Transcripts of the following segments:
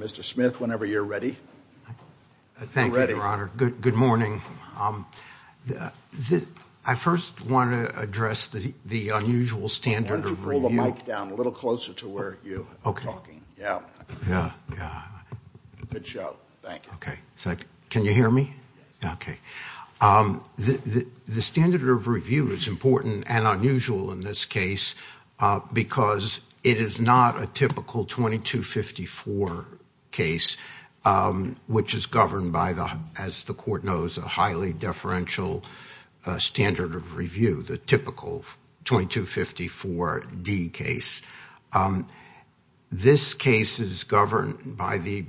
Mr. Smith whenever you're ready. Thank you, Your Honor. Good morning. I first want to address the unusual standard of review. I want you to pull the mic down a little closer to where you are talking. Yeah. Good show. Thank you. Can you hear me? Yes. Okay. The standard of review is important and unusual in this case because it is not a typical 2254 case, which is governed by, as the Court knows, a highly deferential standard of review, the typical 2254D case. This case is governed by the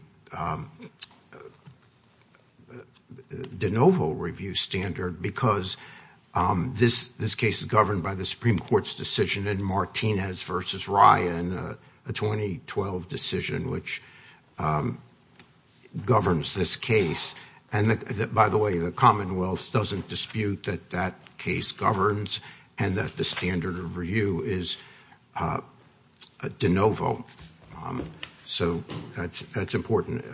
de novo review standard because this case is governed by the Supreme Court's decision in Martinez v. Ryan, a 2012 decision which governs this case. By the way, the Commonwealth doesn't dispute that that case governs and that the standard of review is de novo. That's important.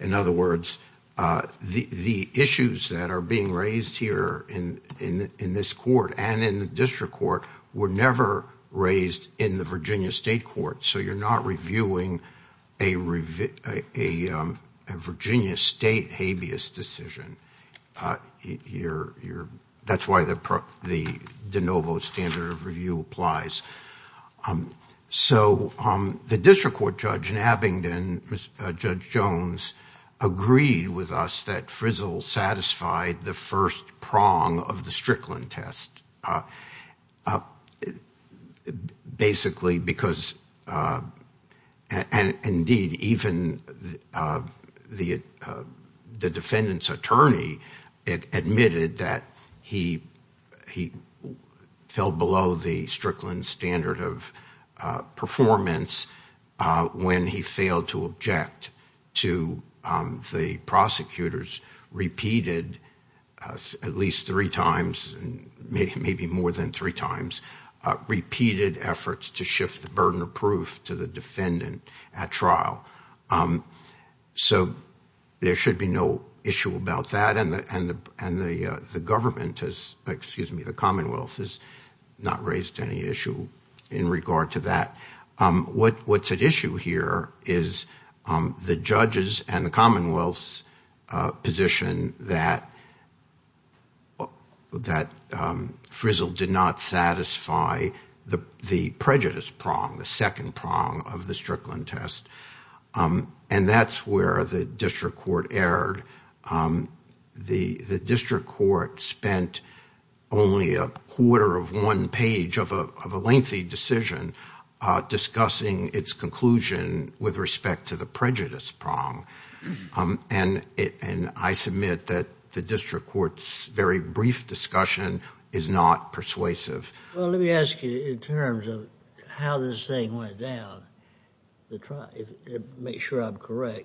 In other words, the issues that are being raised here in this Court and in the District Court were never raised in the Virginia State Court. So you're not reviewing a Virginia State habeas decision. That's why the de novo standard of review applies. So the District Court Judge in Abingdon, Judge Jones, agreed with us that Frizzle satisfied the first prong of the Strickland test. Basically because, and indeed even the defendant's attorney admitted that he fell below the Strickland standard of performance when he failed to object to the prosecutor's repeated, at least three times, maybe more than three times, repeated efforts to shift the burden of proof to the defendant at trial. So there should be no issue about that. And the government has, excuse me, the Commonwealth has not raised any issue in regard to that. What's at issue here is the judges and the Commonwealth's position that Frizzle did not satisfy the prejudice prong, the second prong of the Strickland test. And that's where the District Court erred. The District Court spent only a quarter of one page of a lengthy decision discussing its conclusion with respect to the prejudice prong. And I submit that the District Court's very brief discussion is not persuasive. Well, let me ask you in terms of how this thing went down, make sure I'm correct.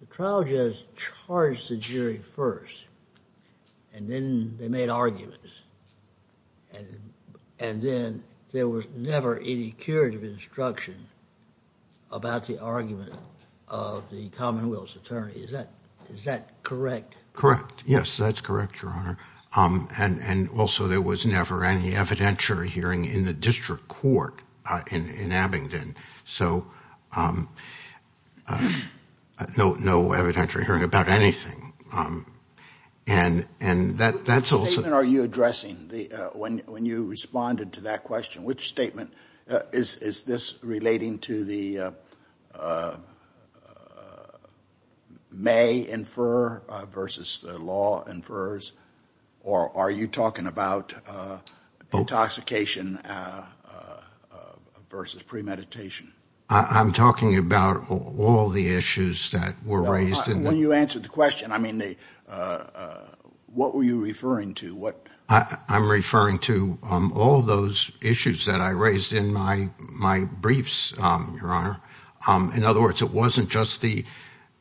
The trial judges charged the jury first and then they made arguments. And then there was never any curative instruction about the argument of the Commonwealth's attorney. Is that correct? Correct. Yes, that's correct, Your Honor. And also there was never any evidentiary hearing in the District Court in Abingdon. So no evidentiary hearing about anything. Which statement are you addressing when you responded to that question? Which statement? Is this relating to the may infer versus the law infers? Or are you talking about intoxication versus premeditation? I'm talking about all the issues that were raised. When you answered the question, I mean, what were you referring to? I'm referring to all of those issues that I raised in my briefs, Your Honor. In other words, it wasn't just that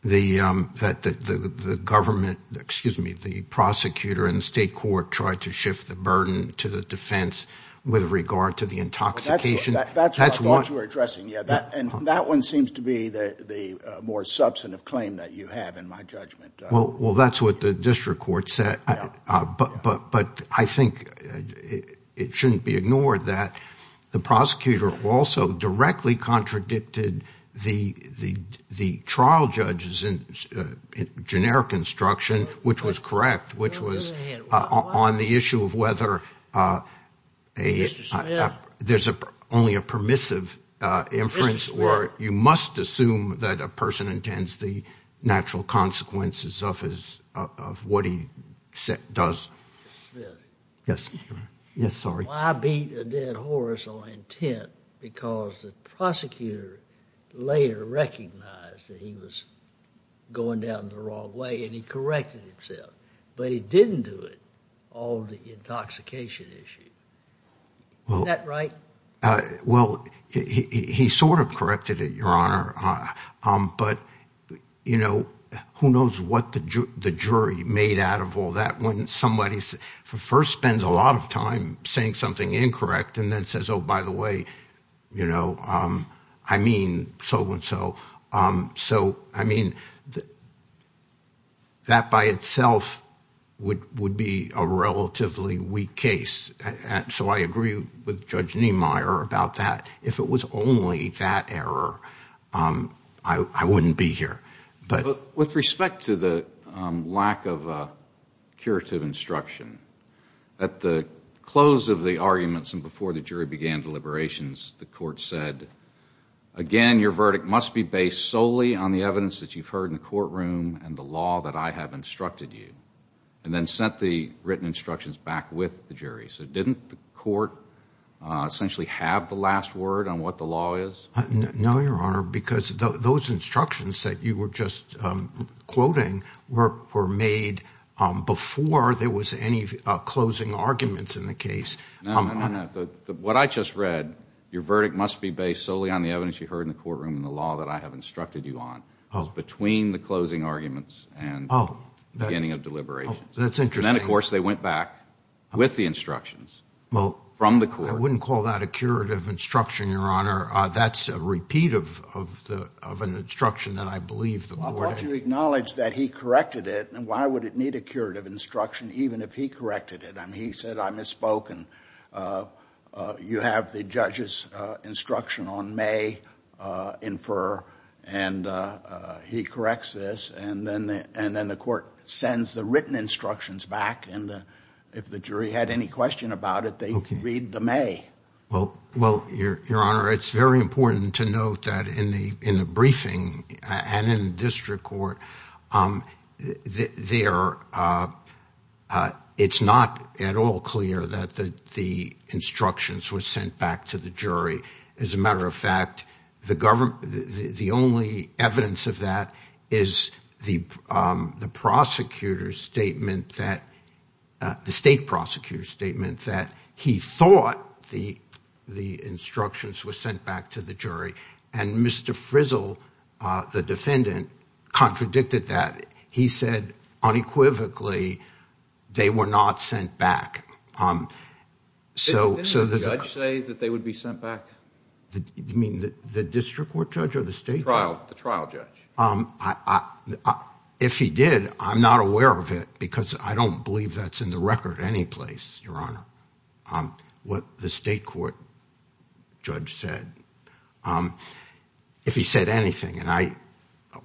the government, excuse me, the prosecutor and state court tried to shift the burden to the defense with regard to the intoxication. That's what you were addressing. And that one seems to be the more substantive claim that you have in my judgment. Well, that's what the District Court said. But I think it shouldn't be ignored that the prosecutor also directly contradicted the trial judges in generic instruction, which was correct, which was on the issue of whether there's only a permissive inference, or you must assume that a person intends the natural consequences of what he does. Well, I beat a dead horse on intent because the prosecutor later recognized that he was going down the wrong way, and he corrected himself. But he didn't do it, all the intoxication issue. Isn't that right? Well, he sort of corrected it, Your Honor. But who knows what the jury made out of all that when somebody first spends a lot of time saying something incorrect and then says, oh, by the way, I mean so and so. So, I mean, that by itself would be a relatively weak case. So I agree with Judge Niemeyer about that. If it was only that error, I wouldn't be here. With respect to the lack of curative instruction, at the close of the arguments and before the jury began deliberations, the court said, again, your verdict must be based solely on the evidence that you've heard in the courtroom and the law that I have instructed you, and then sent the written instructions back with the jury. So didn't the court essentially have the last word on what the law is? No, Your Honor, because those instructions that you were just quoting were made before there was any closing arguments in the case. No, no, no. What I just read, your verdict must be based solely on the evidence you heard in the courtroom and the law that I have instructed you on between the closing arguments and beginning of deliberations. That's interesting. And then, of course, they went back with the instructions from the court. Well, I wouldn't call that a curative instruction, Your Honor. That's a repeat of an instruction that I believe the court had. Well, don't you acknowledge that he corrected it? And why would it need a curative instruction even if he corrected it? I mean, he said, I misspoken. You have the judge's instruction on may infer, and he corrects this, and then the court sends the written instructions back, and if the jury had any question about it, they read the may. Well, Your Honor, it's very important to note that in the and in the district court, it's not at all clear that the instructions were sent back to the jury. As a matter of fact, the only evidence of that is the state prosecutor's statement that he thought the instructions were sent back to the jury, and Mr. Frizzle, the defendant, contradicted that. He said, unequivocally, they were not sent back. Didn't the judge say that they would be sent back? You mean the district court judge or the state judge? The trial judge. If he did, I'm not aware of it because I don't believe that's in the record anyplace, Your Honor. Um, what the state court judge said, um, if he said anything, and I,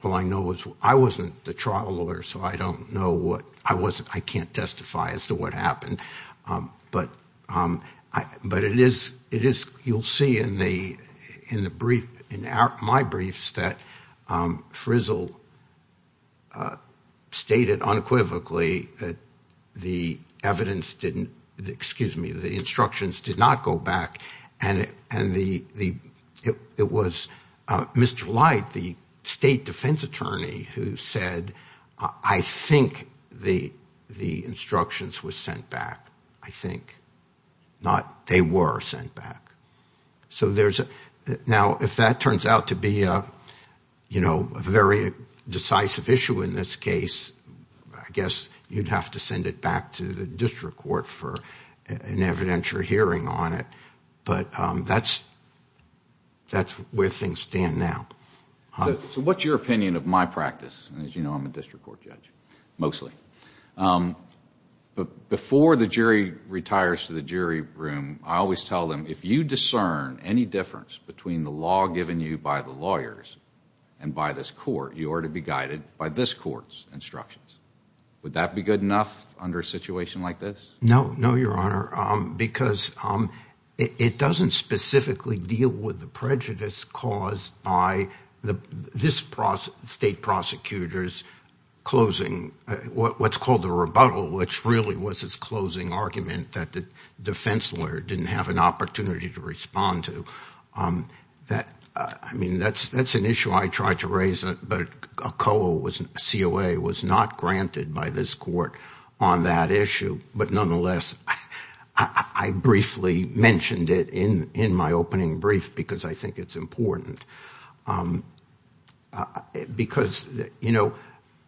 well, I know it's, I wasn't the trial lawyer, so I don't know what, I wasn't, I can't testify as to what happened, um, but, um, I, but it is, it is, you'll see in the, in the brief, in my briefs that, um, Frizzle stated unequivocally that the evidence didn't, excuse me, the instructions did not go back, and, and the, the, it, it was, uh, Mr. Light, the state defense attorney who said, I think the, the instructions were sent back. I think. Not, they were sent back. So there's a, now, if that turns out to be a, you know, a very decisive issue in this case, I guess you'd have to send it back to the district court for an evidentiary hearing on it. But, um, that's, that's where things stand now. So what's your opinion of my practice? And as you know, I'm a district court judge, mostly. Um, but before the jury retires to the jury room, I always tell them, if you discern any difference between the law given you by the lawyers and by this court, you are to be guided by this court's instructions. Would that be good enough under a situation like this? No, no, your honor. Um, because, um, it, it doesn't specifically deal with the prejudice caused by the, this state prosecutor's closing, what's called the rebuttal, which really was his closing argument that the defense lawyer didn't have an opportunity to respond to. Um, that, uh, I mean, that's, that's an issue I tried to raise, but COA was not granted by this court on that issue. But nonetheless, I briefly mentioned it in, in my opening brief, because I think it's important. Um, uh, because you know,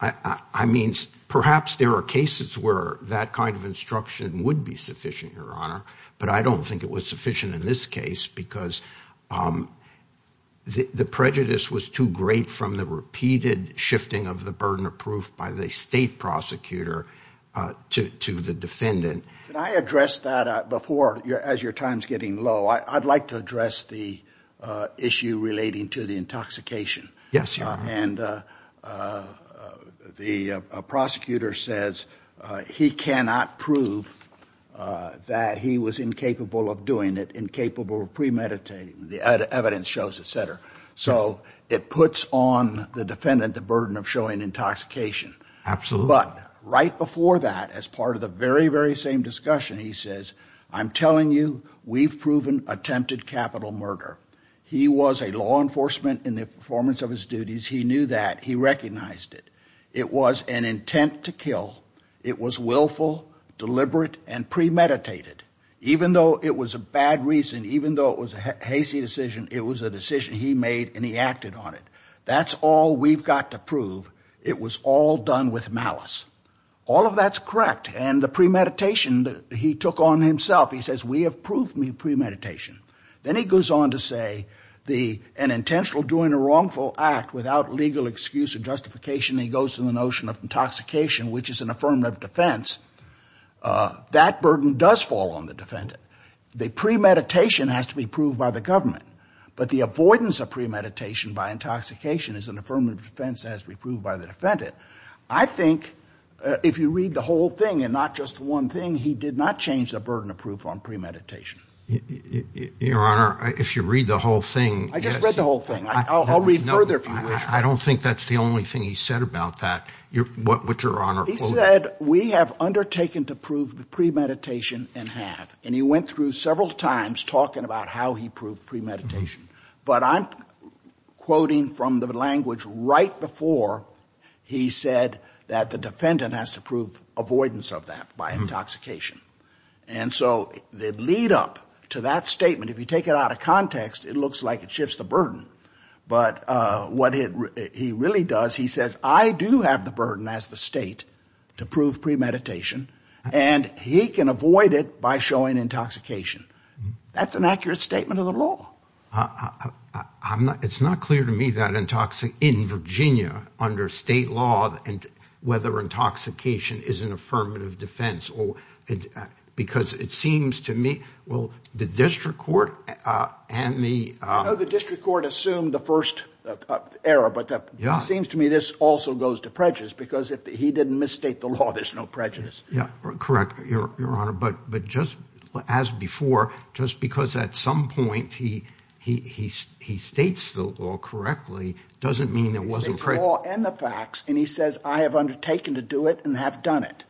I, I, I means perhaps there are cases where that kind of instruction would be sufficient, your honor, but I don't think it was sufficient in this case because, um, the, the prejudice was too great from the repeated shifting of the burden of proof by the state prosecutor, uh, to, to the defendant. Can I address that before your, as your time's getting low, I I'd like to address the, uh, issue relating to the intoxication. Yes, your honor. And, uh, uh, the, uh, prosecutor says, uh, he cannot prove, uh, that he was incapable of doing it, incapable of premeditating the evidence shows, et cetera. So it puts on the defendant, the burden of showing intoxication. Absolutely. But right before that, as part of the very, very same discussion, he says, I'm telling you, we've proven attempted capital murder. He was a law enforcement in the performance of his duties. He knew that he recognized it. It was an intent to kill. It was willful, deliberate, and premeditated, even though it was a bad reason, even though it was a hasty decision, it was a decision he made and he acted on it. That's all we've got to prove. It was all done with malice. All of that's correct. And the premeditation that he took on himself, he says, we have proved me premeditation. Then he goes on to say the, an intentional doing a wrongful act without legal excuse or justification. He goes to the notion of intoxication, which is an affirmative defense. Uh, that burden does fall on the defendant. The premeditation has to be proved by the government, but the avoidance of premeditation by intoxication is an affirmative defense as we proved by the defendant. I think, if you read the whole thing and not just the one thing, he did not change the burden of proof on premeditation. Your Honor, if you read the whole thing. I just read the whole thing. I'll read further. I don't think that's the only thing he said about that. What would your Honor quote? He said, we have undertaken to prove the premeditation and have, and he went through several times talking about how he proved premeditation, but I'm quoting from the language right before he said that the defendant has to prove avoidance of that by intoxication. And so the lead up to that statement, if you take it out of context, it looks like it shifts the burden, but, uh, what he really does, he says, I do have the burden as the state to prove premeditation and he can avoid it by showing intoxication. That's an accurate statement of the law. I'm not, it's not clear to me that intoxicant in Virginia under state law and whether intoxication is an affirmative defense or because it seems to me, well, the district court, uh, and the, uh, the district court assumed the first, uh, era, but that seems to me, this also goes to prejudice because if he didn't misstate the law, there's no prejudice. Yeah, correct. Your Honor. But, but just as before, just because at some point he, he, he, he states the law correctly, doesn't mean it wasn't correct. And the facts. And he says, I have undertaken to do it and have done it.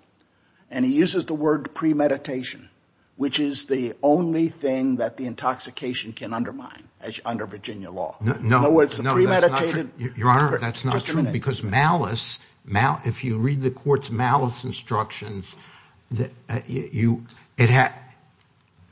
And he uses the word premeditation, which is the only thing that the intoxication can undermine under Virginia law. No, it's premeditated. Your Honor, that's not true because malice, malice, if you read the court's malice instructions that you, it had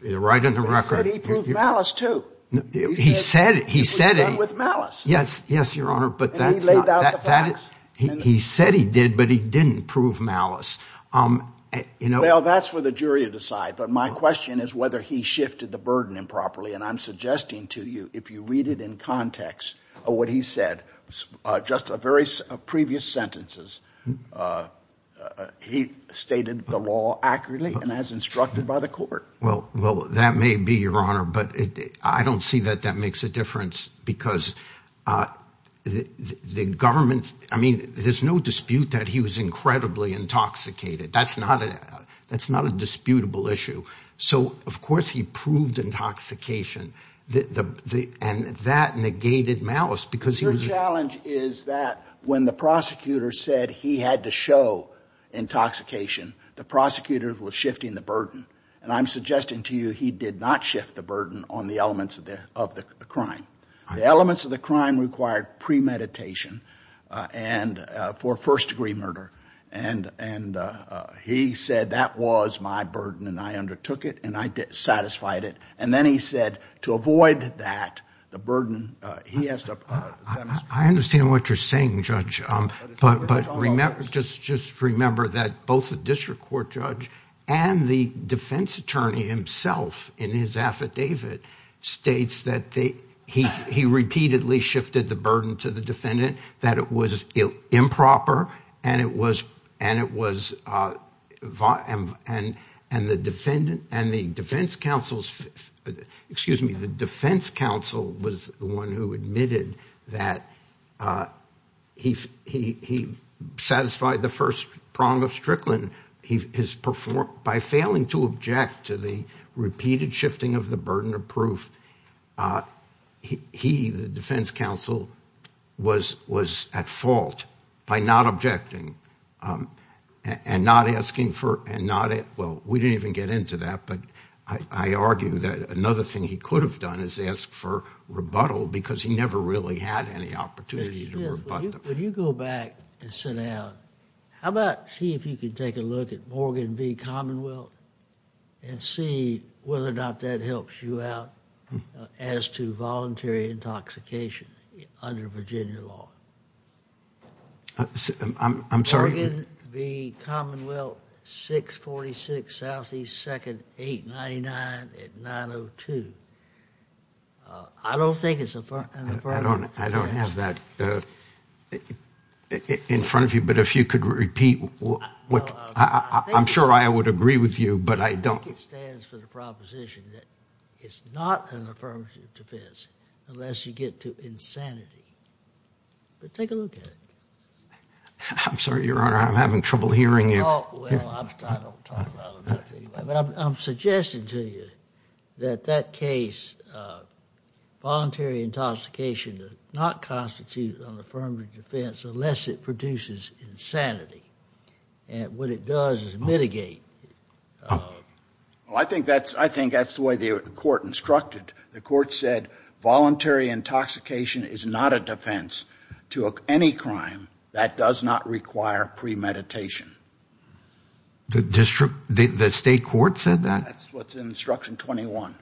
right in the record. He proved malice too. He said, he said it with malice. Yes. Yes, Your Honor. But that's, he said he did, but he didn't prove malice. Um, you know, that's for the jury to decide. But my question is whether he shifted the burden improperly. And I'm suggesting to you, if you read it in context of what he said, just a very previous sentences, he stated the law accurately and as instructed by the court. Well, well, that may be Your Honor, but I don't see that that makes a difference because the government, I mean, there's no dispute that he was incredibly intoxicated. That's not a, that's not a disputable issue. So of course he proved intoxication the, the, the, and that negated malice because he was. Your challenge is that when the prosecutor said he had to show intoxication, the prosecutor was shifting the burden. And I'm suggesting to you, he did not shift the burden on the elements of the, of the crime. The elements of the crime required premeditation, uh, and, uh, for first degree murder. And, and, uh, he said that was my burden and I undertook it and I did, satisfied it. And then he said to avoid that, the burden, uh, he has to, uh, I understand what you're saying, Judge, um, but, but remember, just, just remember that both the district court judge and the defense attorney himself in his affidavit states that they, he, he repeatedly shifted the burden to the defendant, that it was improper. And it was, and it was, uh, and, and the defendant and the defense counsels, excuse me, the defense counsel was the one who admitted that, uh, he, he, he satisfied the first prong of Strickland. He has performed by failing to object to the repeated shifting of the burden of proof. Uh, he, he, the defense counsel was, was at fault by not objecting, um, and not asking for, and not, well, we didn't even get into that, but I, I argue that another thing he could have done is ask for rebuttal because he never really had any opportunity to rebut them. When you go back and sit down, how about see if you can take a look at Morgan v. Commonwealth and see whether or not that helps you out as to voluntary intoxication under Virginia law? I'm, I'm sorry. Morgan v. Commonwealth, 646 Southeast 2nd, 899 at 902. Uh, I don't think it's a problem. I don't have that, uh, in front of you, but if you could repeat what, I'm sure I would agree with you, but I don't. I think it stands for the proposition that it's not an affirmative defense unless you get to insanity, but take a look at it. I'm sorry, Your Honor, I'm having trouble hearing you. I'm suggesting to you that that case, uh, voluntary intoxication does not constitute an affirmative defense unless it produces insanity, and what it does is mitigate. Well, I think that's, I think that's the way the court instructed. The court said voluntary intoxication is not a defense to any crime that does not require premeditation. The district, the state court said that? That's what's in instruction 21.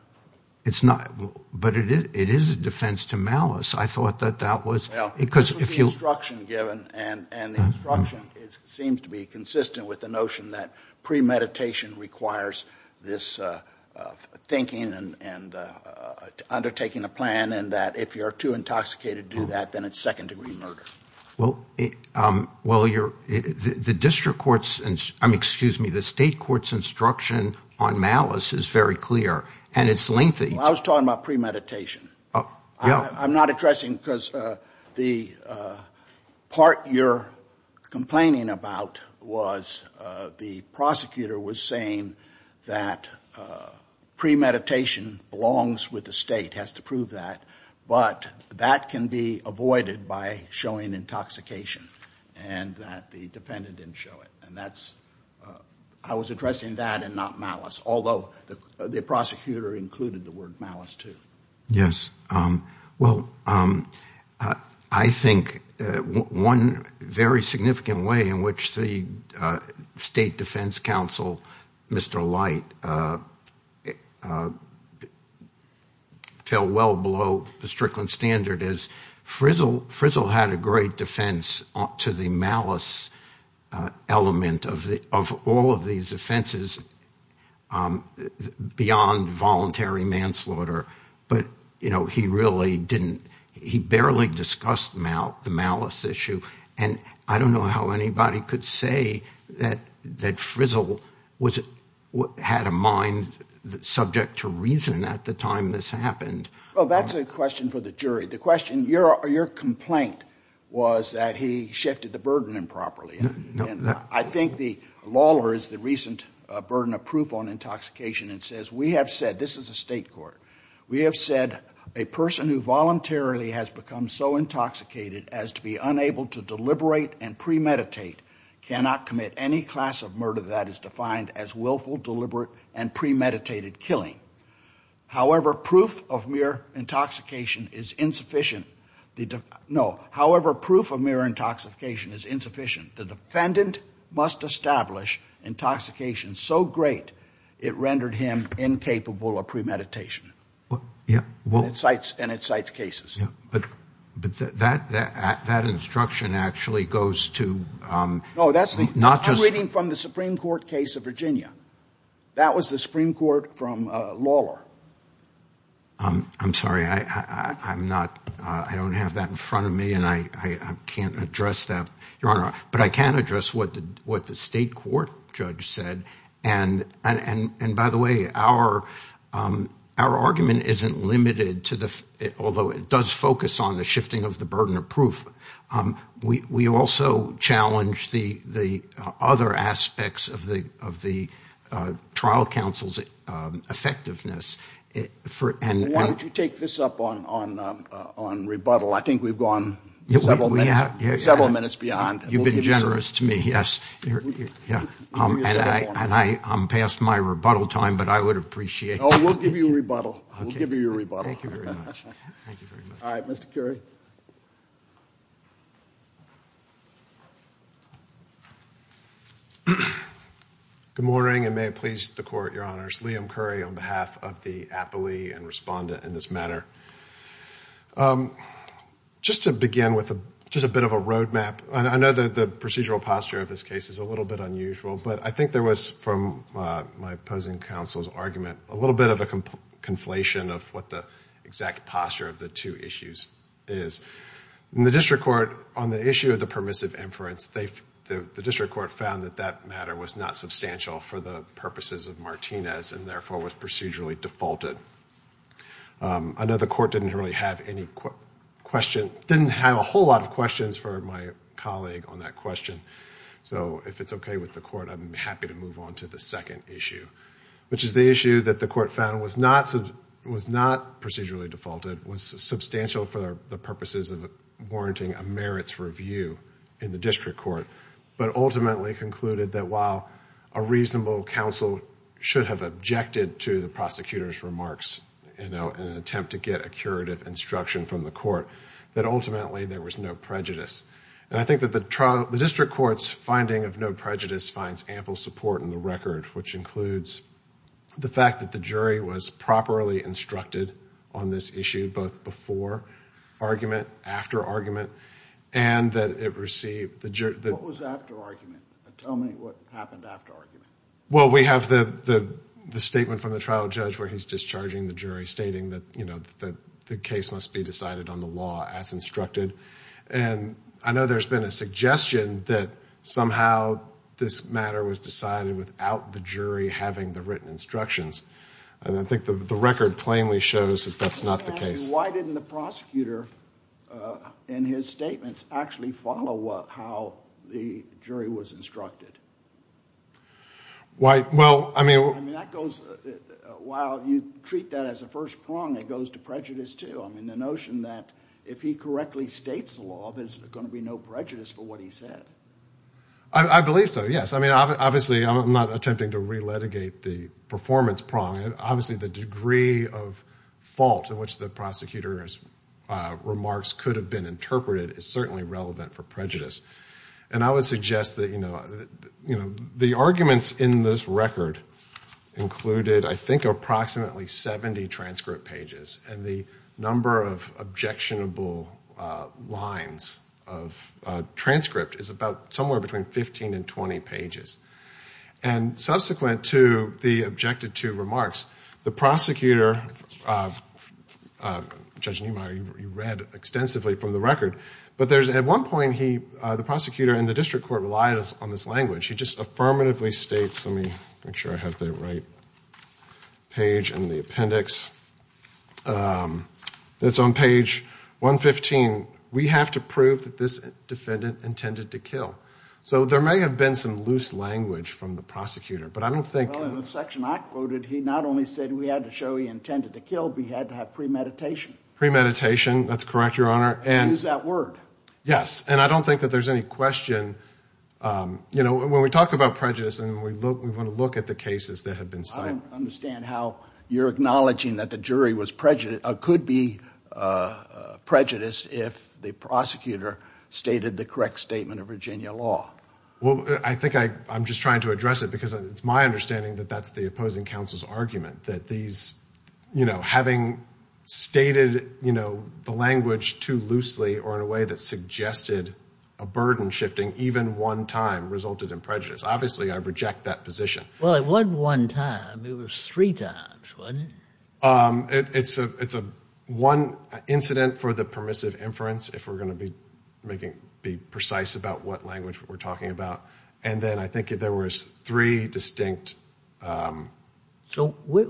It's not, but it is, it is a defense to malice. I thought that that was, because if you... This was the instruction given, and the instruction seems to be consistent with the notion that premeditation requires this, uh, thinking and, and, uh, undertaking a plan, and that if you're too intoxicated to do that, then it's second-degree murder. Well, um, well, your, the district court's, I mean, excuse me, the state court's instruction on malice is very clear, and it's lengthy. I was talking about premeditation. I'm not addressing, because, uh, the, uh, part you're complaining about was, uh, the prosecutor was saying that, uh, premeditation belongs with the state, has to prove that, but that can be avoided by showing intoxication, and that the defendant didn't show it, and that's, uh, I was addressing that and not malice, although the prosecutor included the word malice, too. Yes, um, well, um, uh, I think, uh, one very significant way in which the, uh, State Defense Counsel, Mr. Light, uh, uh, fell well below the Strickland standard is Frizzle, Frizzle had a great defense to the malice, uh, element of the, of all of these offenses, um, beyond voluntary manslaughter, but, you know, he really didn't, he barely discussed mal, the malice issue, and I don't know how anybody could say that, that Frizzle was, had a mind subject to reason at the time this happened. Well, that's a question for the jury. The question, your, your complaint was that he shifted the burden improperly, and I think Lawler is the recent, uh, burden of proof on intoxication and says, we have said, this is a state court, we have said a person who voluntarily has become so intoxicated as to be unable to deliberate and premeditate cannot commit any class of murder that is defined as willful, deliberate, and premeditated killing. However, proof of mere intoxication is insufficient. The, no, however, proof of mere intoxication is insufficient. The defendant must establish intoxication so great it rendered him incapable of premeditation. Yeah. Well, it cites, and it cites cases. Yeah. But, but that, that, that instruction actually goes to, um. No, that's the, I'm reading from the Supreme Court case of Virginia. That was the Supreme Court from, uh, Lawler. Um, I'm sorry. I, I, I'm not, uh, I don't have that in front of me and I, I, I can't address that. Your Honor, but I can address what the, what the state court judge said. And, and, and, and by the way, our, um, our argument isn't limited to the, although it does focus on the shifting of the burden of proof. Um, we, we also challenge the, the, uh, other aspects of the, of the, uh, trial counsel's, um, effectiveness for, and. Why don't you take this up on, on, uh, on rebuttal? I think we've gone several minutes, several minutes beyond. You've been generous to me. Yeah. And I, I'm past my rebuttal time, but I would appreciate. Oh, we'll give you a rebuttal. We'll give you a rebuttal. Thank you very much. Thank you very much. All right, Mr. Currie. Good morning and may it please the court, Your Honors. Liam Currie on behalf of the appellee and respondent in this matter. Um, just to begin with a, just a bit of a roadmap, I, I know that the procedural posture of this case is a little bit unusual, but I think there was from, uh, my opposing counsel's argument, a little bit of a conflation of what the exact posture of the two issues is. In the district court, on the issue of the permissive inference, they, the, the district court found that that matter was not substantial for the purposes of Martinez and therefore was procedurally defaulted. Um, I know the court didn't really have any question, didn't have a whole lot of questions for my colleague on that question. So if it's okay with the court, I'm happy to move on to the second issue, which is the issue that the court found was not, was not procedurally defaulted, was substantial for the purposes of warranting a merits review in the district court, but ultimately concluded that while a reasonable counsel should have objected to the prosecutor's remarks, you know, in an attempt to get a curative instruction from the court, that ultimately there was no prejudice. And I think that the trial, the district court's finding of no prejudice finds ample support in the record, which includes the fact that the jury was properly instructed on this issue, both before argument, after argument, and that it received... happened after argument. Well, we have the, the, the statement from the trial judge where he's discharging the jury stating that, you know, that the case must be decided on the law as instructed. And I know there's been a suggestion that somehow this matter was decided without the jury having the written instructions. And I think the record plainly shows that that's not the case. Why didn't the prosecutor, uh, in his statements actually follow what, how the jury was instructed? Why, well, I mean... I mean, that goes, while you treat that as a first prong, it goes to prejudice too. I mean, the notion that if he correctly states the law, there's going to be no prejudice for what he said. I, I believe so, yes. I mean, obviously I'm not attempting to re-litigate the performance prong. Obviously the degree of fault in which the prosecutor's, uh, remarks could have been interpreted is certainly relevant for prejudice. And I would suggest that, you know, you know, the arguments in this record included, I think, approximately 70 transcript pages. And the number of objectionable, uh, lines of, uh, transcript is about somewhere between 15 and 20 pages. And subsequent to the objected to remarks, the prosecutor, uh, uh, Judge Niemeyer, you read extensively from the record. But there's, at one point he, uh, the prosecutor and the district court relied on this language. He just affirmatively states, let me make sure I have the right page in the appendix. Um, it's on page 115. We have to prove that this defendant intended to kill. So there may have been some loose language from the prosecutor, but I don't think... Well, in the section I quoted, he not only said we had to show he intended to kill, but he had to have premeditation. Premeditation, that's correct, Your Honor. Use that word. And I don't think that there's any question, um, you know, when we talk about prejudice and we look, we want to look at the cases that have been cited. I don't understand how you're acknowledging that the jury was prejudiced, uh, could be, uh, uh, prejudiced if the prosecutor stated the correct statement of Virginia law. Well, I think I, I'm just trying to address it because it's my understanding that that's the opposing counsel's argument that these, you know, having stated, you know, the language too loosely or in a way that suggested a burden shifting even one time resulted in prejudice. Obviously, I reject that position. Well, it wasn't one time. It was three times, wasn't it? Um, it's a, it's a one incident for the permissive inference, if we're going to be making, be precise about what language we're talking about. And then I think there was three distinct, um... where,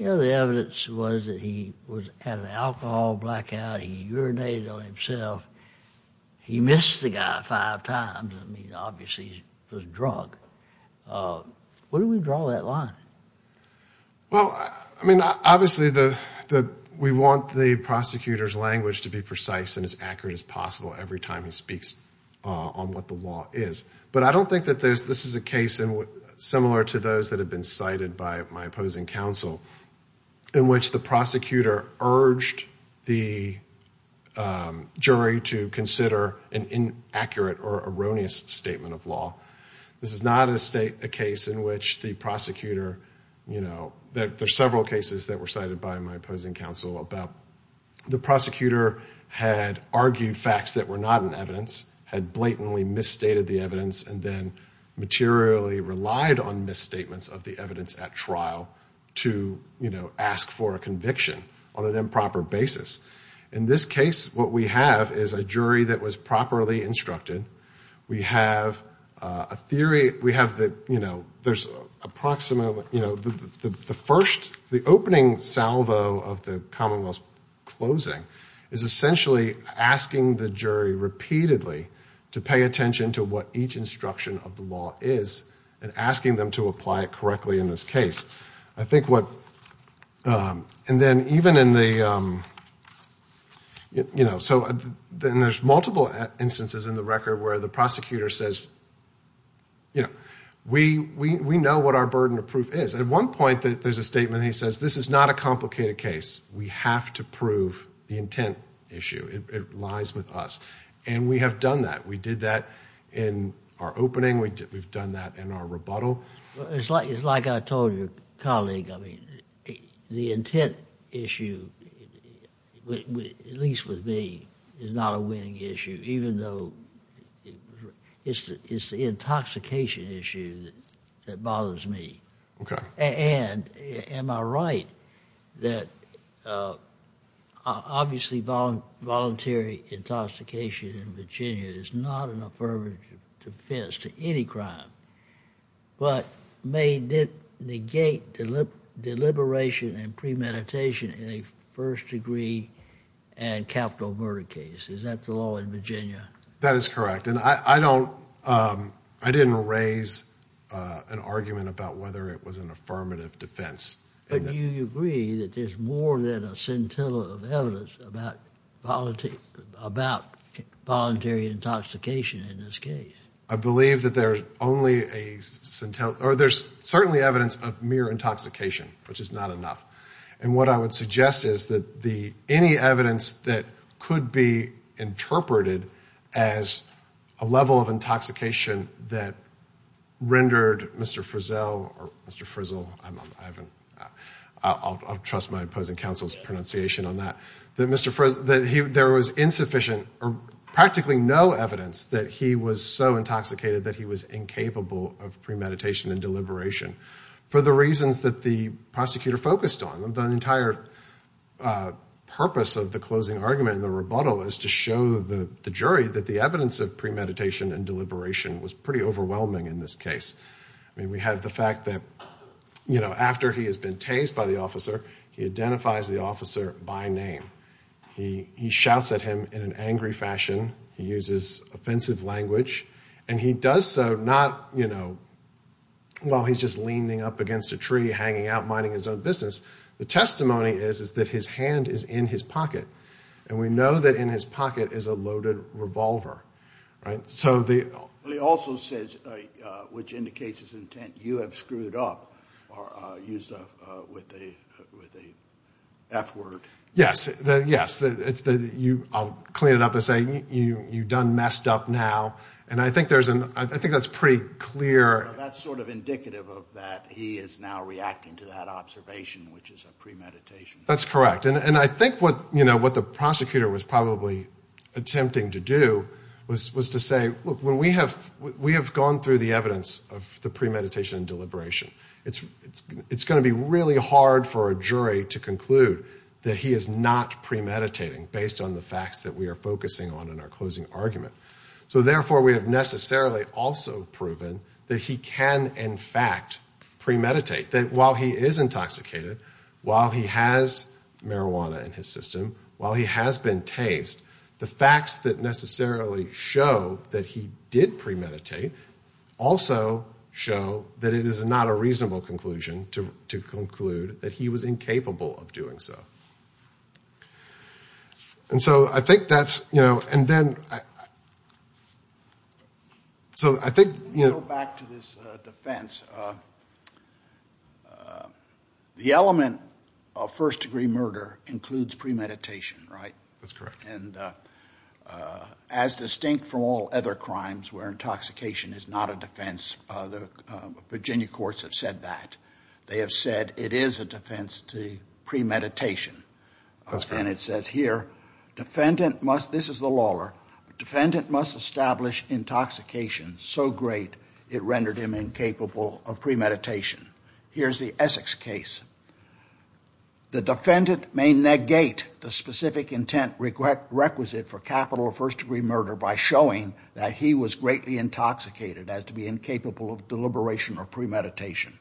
you know, the evidence was that he was at an alcohol blackout. He urinated on himself. He missed the guy five times. I mean, obviously he was drunk. Uh, where do we draw that line? Well, I mean, obviously the, the, we want the prosecutor's language to be precise and as accurate as possible every time he speaks, uh, on what the law is. But I don't think that there's, this is a case in what, similar to those that have been cited by my opposing counsel in which the prosecutor urged the, um, jury to consider an inaccurate or erroneous statement of law. This is not a state, a case in which the prosecutor, you know, that there's several cases that were cited by my opposing counsel about the prosecutor had argued facts that were not evidence, had blatantly misstated the evidence, and then materially relied on misstatements of the evidence at trial to, you know, ask for a conviction on an improper basis. In this case, what we have is a jury that was properly instructed. We have a theory, we have the, you know, there's approximately, you know, the, the, the first, the opening salvo of the Commonwealth's closing is essentially asking the jury repeatedly to pay attention to what each instruction of the law is and asking them to apply it correctly in this case. I think what, um, and then even in the, um, you know, so then there's multiple instances in the record where the prosecutor says, you know, we, we, we know what our burden of proof is. At one point that there's a statement, he says, this is not a complicated case. We have to prove the intent issue. It lies with us. And we have done that. We did that in our opening. We did, we've done that in our rebuttal. Well, it's like, it's like I told your colleague, I mean, the intent issue, at least with me, is not a winning issue, even though it's, it's the intoxication issue that, that bothers me. Okay. And am I right that, uh, obviously voluntary intoxication in Virginia is not an affirmative defense to any crime, but may negate deliberation and premeditation in a first degree and capital murder case. Is that the law in Virginia? That is correct. And I, I don't, um, I didn't raise, uh, an argument about whether it was an affirmative defense. But you agree that there's more than a scintilla of evidence about voluntary, about voluntary intoxication in this case. I believe that there's only a scintilla, or there's certainly evidence of mere intoxication, which is not enough. And what I would suggest is that the, any evidence that could be interpreted as a level of intoxication that rendered Mr. Frizzell, or Mr. Frizzle, I haven't, I'll, I'll trust my opposing counsel's pronunciation on that, that Mr. Frizzle, that he, there was insufficient or practically no evidence that he was so intoxicated that he was incapable of premeditation and deliberation. For the reasons that the prosecutor focused on, the entire, uh, purpose of the closing argument and the rebuttal is to show the, the jury that the evidence of premeditation and deliberation was pretty overwhelming in this case. I mean, we have the fact that, you know, after he has been tased by the officer, he identifies the officer by name. He, he shouts at him in an angry fashion. He uses offensive language and he does so not, you know, well, he's just leaning up against a tree, hanging out, minding his own business. The testimony is, is that his hand is in his pocket and we know that in his pocket is a loaded revolver, right? So the... But he also says, uh, uh, which indicates his intent, you have screwed up or, uh, used a, uh, with a, with a F word. Yes, yes, it's the, you, I'll clean it up and say you, you, you done messed up now. And I think there's an, I think that's pretty clear. That's sort of indicative of that. He is now reacting to that observation, which is a premeditation. That's correct. And I think what, you know, what the prosecutor was probably attempting to do was, was to say, look, when we have, we have gone through the evidence of the premeditation and deliberation, it's, it's, it's going to be really hard for a jury to conclude that he is not premeditating based on the facts that we are focusing on in our closing argument. So therefore we have necessarily also proven that he can in fact premeditate that while he is intoxicated, while he has marijuana in his system, while he has been tased, the facts that necessarily show that he did premeditate also show that it is not a reasonable conclusion to, to conclude that he was incapable of doing so. And so I think that's, you know, and then, so I think, you know, back to this defense, the element of first degree murder includes premeditation, right? That's correct. And as distinct from all other crimes where intoxication is not a defense, the Virginia courts have said that. They have said it is a defense to premeditation. That's correct. And it says here, defendant must, this is the lawyer, defendant must establish intoxication so great it rendered him incapable of premeditation. Here's the Essex case. The defendant may negate the specific intent requisite for capital of first degree murder by showing that he was greatly intoxicated as to be incapable of deliberation or premeditation.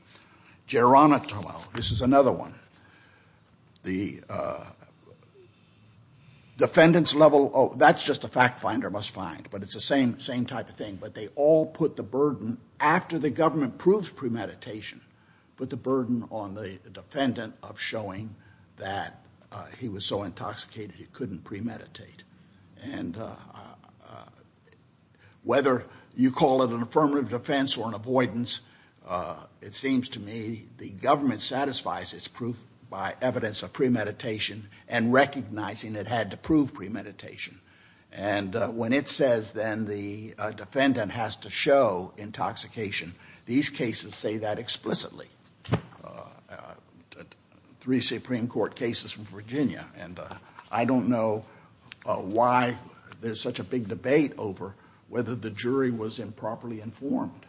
Geronimo, this is another one. The defendant's level, oh, that's just a fact finder must find, but it's the same, same type of thing, but they all put the burden after the government proves premeditation, put the burden on the defendant of showing that he was so intoxicated he couldn't premeditate. And whether you call it an affirmative defense or an avoidance, it seems to me the government satisfies its proof by evidence of premeditation and recognizing it had to prove premeditation. And when it says then the defendant has to show intoxication, these cases say that explicitly. Three Supreme Court cases from Virginia. And I don't know why there's such a big debate over whether the jury was improperly informed.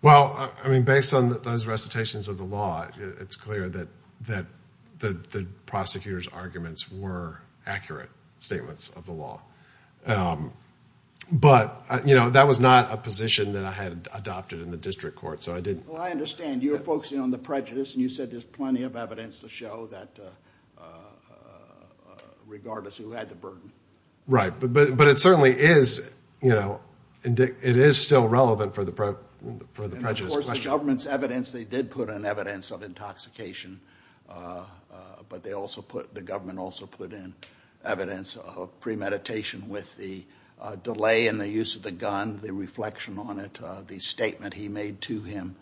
Well, I mean, based on those recitations of the law, it's clear that the prosecutor's arguments were accurate statements of the law. But, you know, that was not a position that I had adopted in the district court, so I didn't. Well, I understand you were focusing on the prejudice and you said there's plenty of evidence to show that regardless who had the burden. Right, but it certainly is, you know, it is still relevant for the prejudice question. And of course the government's evidence, they did put in evidence of intoxication, but they also put, the government also put in evidence of premeditation with the delay in the use of the gun, the reflection on it, the statement he made to him.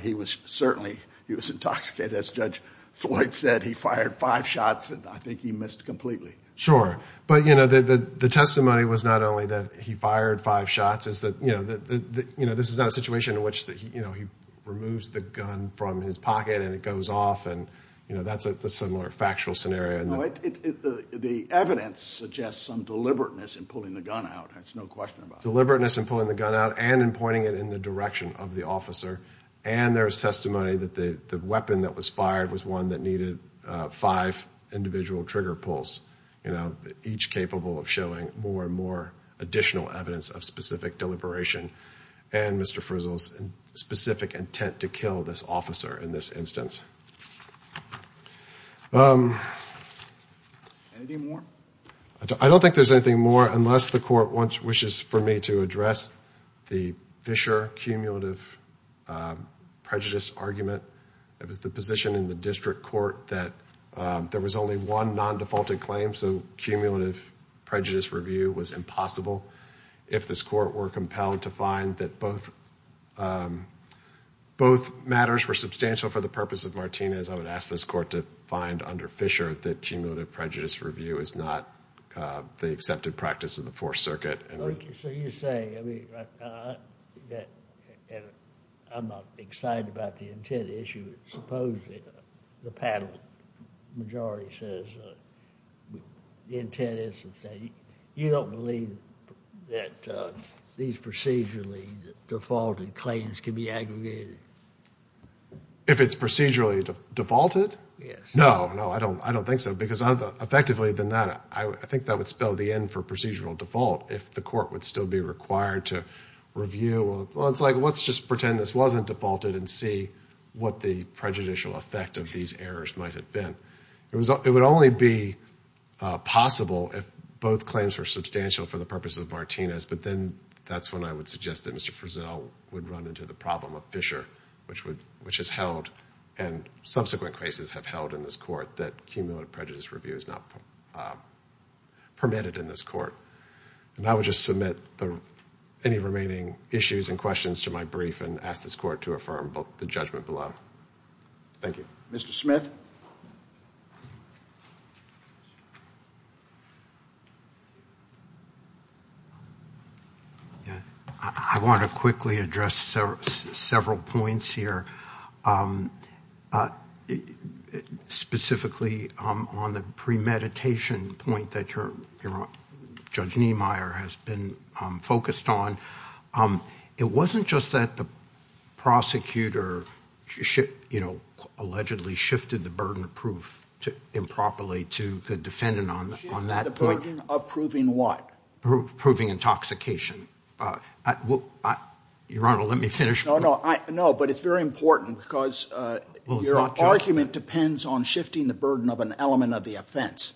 He was certainly, he was intoxicated, as Judge Floyd said, he fired five shots, and I think he missed completely. Sure. But, you know, the testimony was not only that he fired five shots, it's that, you know, this is not a situation in which, you know, he removes the gun from his pocket and it goes off and, you know, that's a similar factual scenario. No, the evidence suggests some deliberateness in pulling the gun out, that's no question about it. Deliberateness in pulling the gun out and in pointing it in the direction of the officer, and there's testimony that the weapon that was fired was one that needed five individual trigger pulls, you know, each capable of showing more and more additional evidence of specific deliberation and Mr. Frizzle's specific intent to kill this officer in this instance. Anything more? I don't think there's anything more unless the court wants, wishes for me to address the Fisher cumulative prejudice argument. It was the position in the district court that there was only one non-defaulted claim, so cumulative prejudice review was impossible if this court were compelled to find that both, um, both matters were substantial for the purpose of Martinez. I would ask this court to find under Fisher that cumulative prejudice review is not the accepted practice of the Fourth Circuit. Thank you, so you say, I mean, I'm not excited about the intent issue. Supposedly, the panel majority says the intent is that you don't believe that these procedurally defaulted claims can be aggregated. If it's procedurally defaulted? Yes. No, no, I don't, I don't think so because effectively than that, I think that would spell the end for procedural default if the court would still be required to review, well, it's like, let's just pretend this wasn't defaulted and see what the prejudicial effect of these errors might have been. It was, it would only be possible if both claims were substantial for the purpose of Martinez, but then that's when I would suggest that Mr. Frizzell would run into the problem of Fisher, which would, which has held and subsequent cases have held in this court that cumulative prejudice review is not permitted in this court. And I would just submit any remaining issues and questions to my brief and ask this court to affirm the judgment below. Thank you. Mr. Smith. Yeah, I want to quickly address several points here. Specifically on the premeditation point that you're, Judge Niemeyer has been focused on. It wasn't just that the prosecutor should, you know, allegedly shifted the burden of proof to improperly to the defendant on that point. Shifting the burden of proving what? Proving intoxication. Your Honor, let me finish. No, no, I, no, but it's very important because your argument depends on shifting the burden of an element of the offense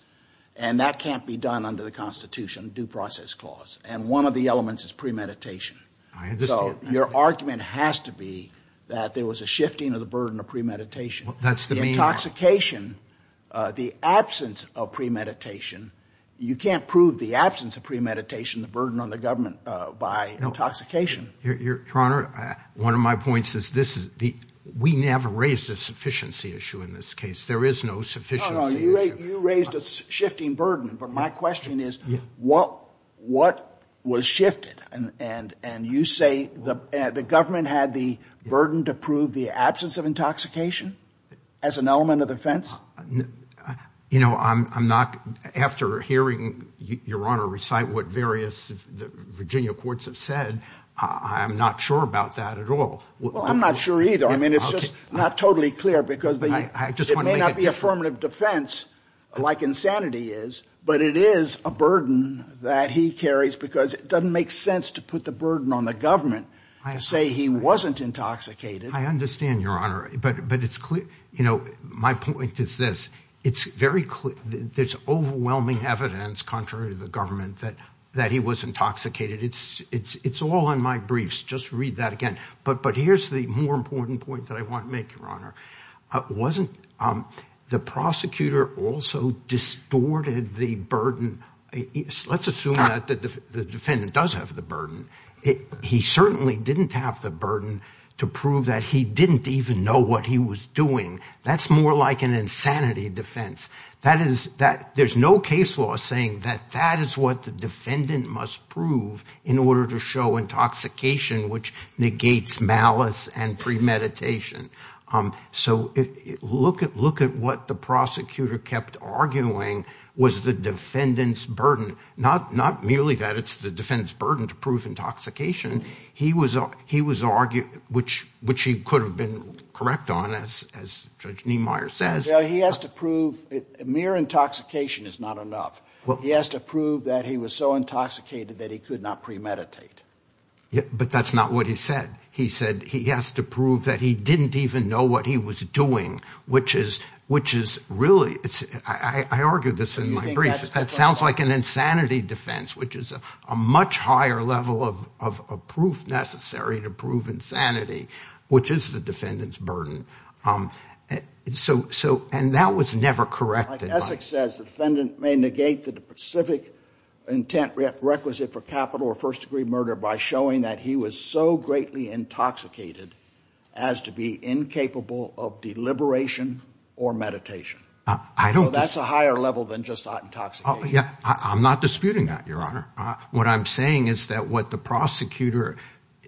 and that can't be done under the constitution due process clause. And one of the elements is premeditation. I understand. So your argument has to be that there was a shifting of the burden of premeditation. That's the intoxication, the absence of premeditation. You can't prove the absence of premeditation, the burden on the government by intoxication. Your Honor, one of my points is this is the, we never raised a sufficiency issue in this case. There is no sufficient. You raised a shifting burden. But my question is what, what was shifted and, and, and you say the, the government had the burden to prove the absence of intoxication as an element of the offense? You know, I'm, I'm not, after hearing your Honor recite what various Virginia courts have said, I'm not sure about that at all. Well, I'm not sure either. I mean, it's just not totally clear because it may not be affirmative defense like insanity is, but it is a burden that he carries because it doesn't make sense to put the burden on the government to say he wasn't intoxicated. I understand your Honor. But, but it's clear, you know, my point is this, it's very clear. There's overwhelming evidence contrary to the government that, that he was intoxicated. It's, it's, it's all in my briefs. Just read that again. But, but here's the more important point that I want to make, Your Honor. Wasn't the prosecutor also distorted the burden? Let's assume that the defendant does have the burden. He certainly didn't have the burden to prove that he didn't even know what he was doing. That's more like an insanity defense. That is that there's no case law saying that that is what the defendant must prove in order to show intoxication, which negates malice and premeditation. So look at, look at what the prosecutor kept arguing was the defendant's burden. Not, not merely that it's the defendant's burden to prove intoxication. He was, he was arguing, which, which he could have been correct on as, as Judge Niemeyer says. Yeah, he has to prove it. Mere intoxication is not enough. He has to prove that he was so intoxicated that he could not premeditate. But that's not what he said. He said he has to prove that he didn't even know what he was doing, which is, which is really, it's, I argue this in my brief. That sounds like an insanity defense, which is a much higher level of, of proof necessary to prove insanity, which is the defendant's burden. So, so, and that was never corrected. Like Essex says, the defendant may negate the specific intent requisite for capital or first degree murder by showing that he was so greatly intoxicated as to be incapable of deliberation or meditation. I don't know. That's a higher level than just not intoxicated. Yeah, I'm not disputing that, Your Honor. What I'm saying is that what the prosecutor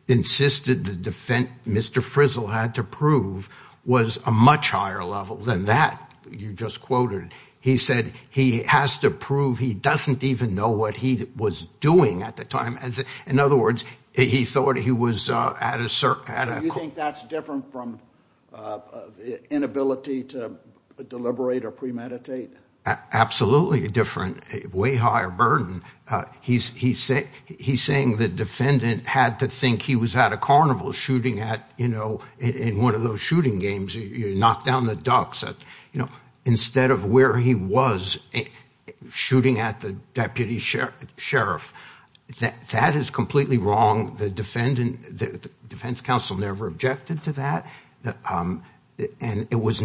insisted the defendant, Mr. Frizzle, had to prove was a much higher level than that you just quoted. He said he has to prove he doesn't even know what he was doing at the time. In other words, he thought he was at a certain... Do you think that's different from inability to deliberate or premeditate? Absolutely different. Way higher burden. He's saying the defendant had to think he was at a carnival shooting at, you know, in one of those shooting games, you knock down the ducks, you know, instead of where he was shooting at the deputy sheriff. That is completely wrong. The defense counsel never objected to that. There was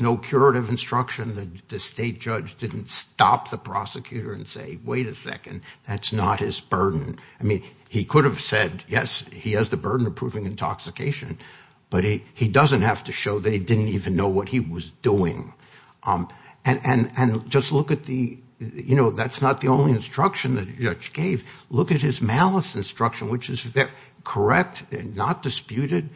no curative instruction. The state judge didn't stop the prosecutor and say, wait a second, that's not his burden. I mean, he could have said, yes, he has the burden of proving intoxication, but he doesn't have to show they didn't even know what he was doing. And just look at the, you know, that's not the only instruction that the judge gave. Look at his malice instruction, which is correct and not disputed.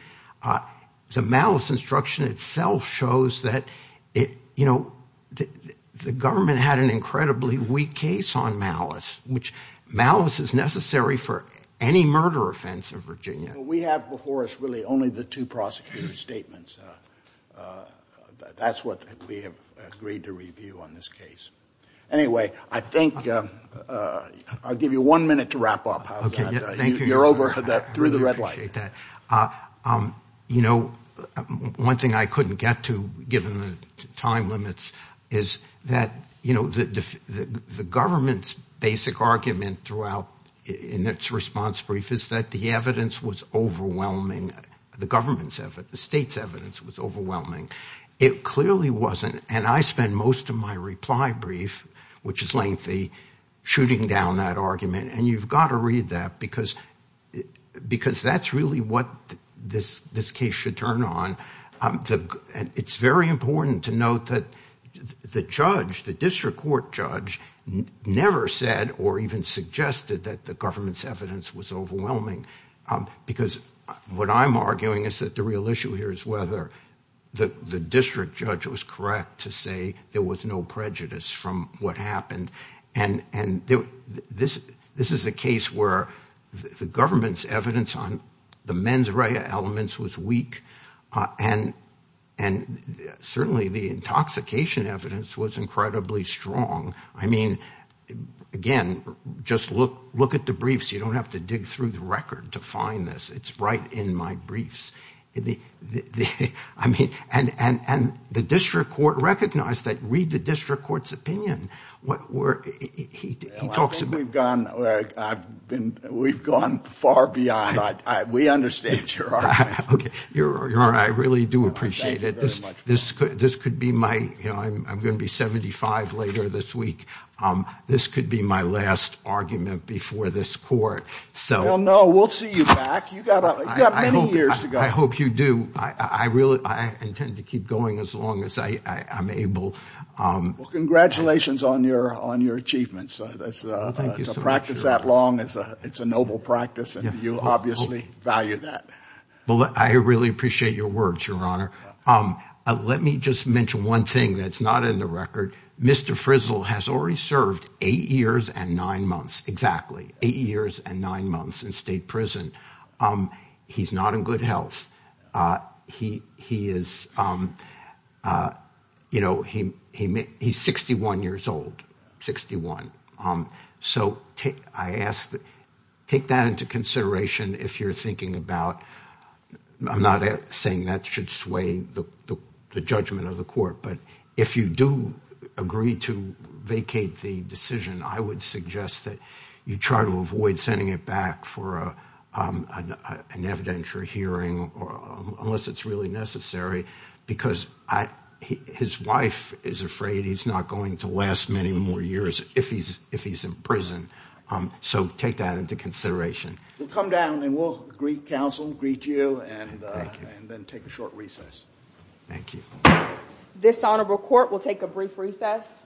The malice instruction itself shows that, you know, the government had an incredibly weak case on malice, which malice is necessary for any murder offense in Virginia. We have before us really only the two prosecutor's statements. That's what we have agreed to review on this case. Anyway, I think I'll give you one minute to wrap up. OK, thank you. You're over that through the red light. That, you know, one thing I couldn't get to given the time limits is that, you know, the government's basic argument throughout in its response brief is that the evidence was overwhelming. The government's state's evidence was overwhelming. It clearly wasn't. And I spent most of my reply brief, which is lengthy, shooting down that argument. And you've got to read that because that's really what this case should turn on. And it's very important to note that the judge, the district court judge, never said or even suggested that the government's evidence was overwhelming. Because what I'm arguing is that the real issue here is whether the district judge was correct to say there was no prejudice from what happened. And this is a case where the government's evidence on the mens rea elements was weak. And certainly the intoxication evidence was incredibly strong. I mean, again, just look at the briefs. You don't have to dig through the record to find this. It's right in my briefs. I mean, and the district court recognized that. Read the district court's opinion. I think we've gone far beyond. We understand your arguments. Okay, Your Honor, I really do appreciate it. This could be my, you know, I'm going to be 75 later this week. This could be my last argument before this court. Well, no, we'll see you back. You've got many years to go. I hope you do. I intend to keep going as long as I'm able. Well, congratulations on your achievements. Well, thank you so much, Your Honor. To practice that long, it's a noble practice. And you obviously value that. I really appreciate your words, Your Honor. Let me just mention one thing that's not in the record. Mr. Frizzle has already served eight years and nine months. Exactly. Eight years and nine months in state prison. He's not in good health. He is, you know, he's 61 years old. 61. So I ask that, take that into consideration if you're thinking about, I'm not saying that should sway the judgment of the court. But if you do agree to vacate the decision, I would suggest that you try to avoid sending it back for an evidentiary hearing, unless it's really necessary. Because his wife is afraid he's not going to last many more years if he's in prison. So take that into consideration. We'll come down and we'll greet counsel, greet you, and then take a short recess. Thank you. This honorable court will take a brief recess.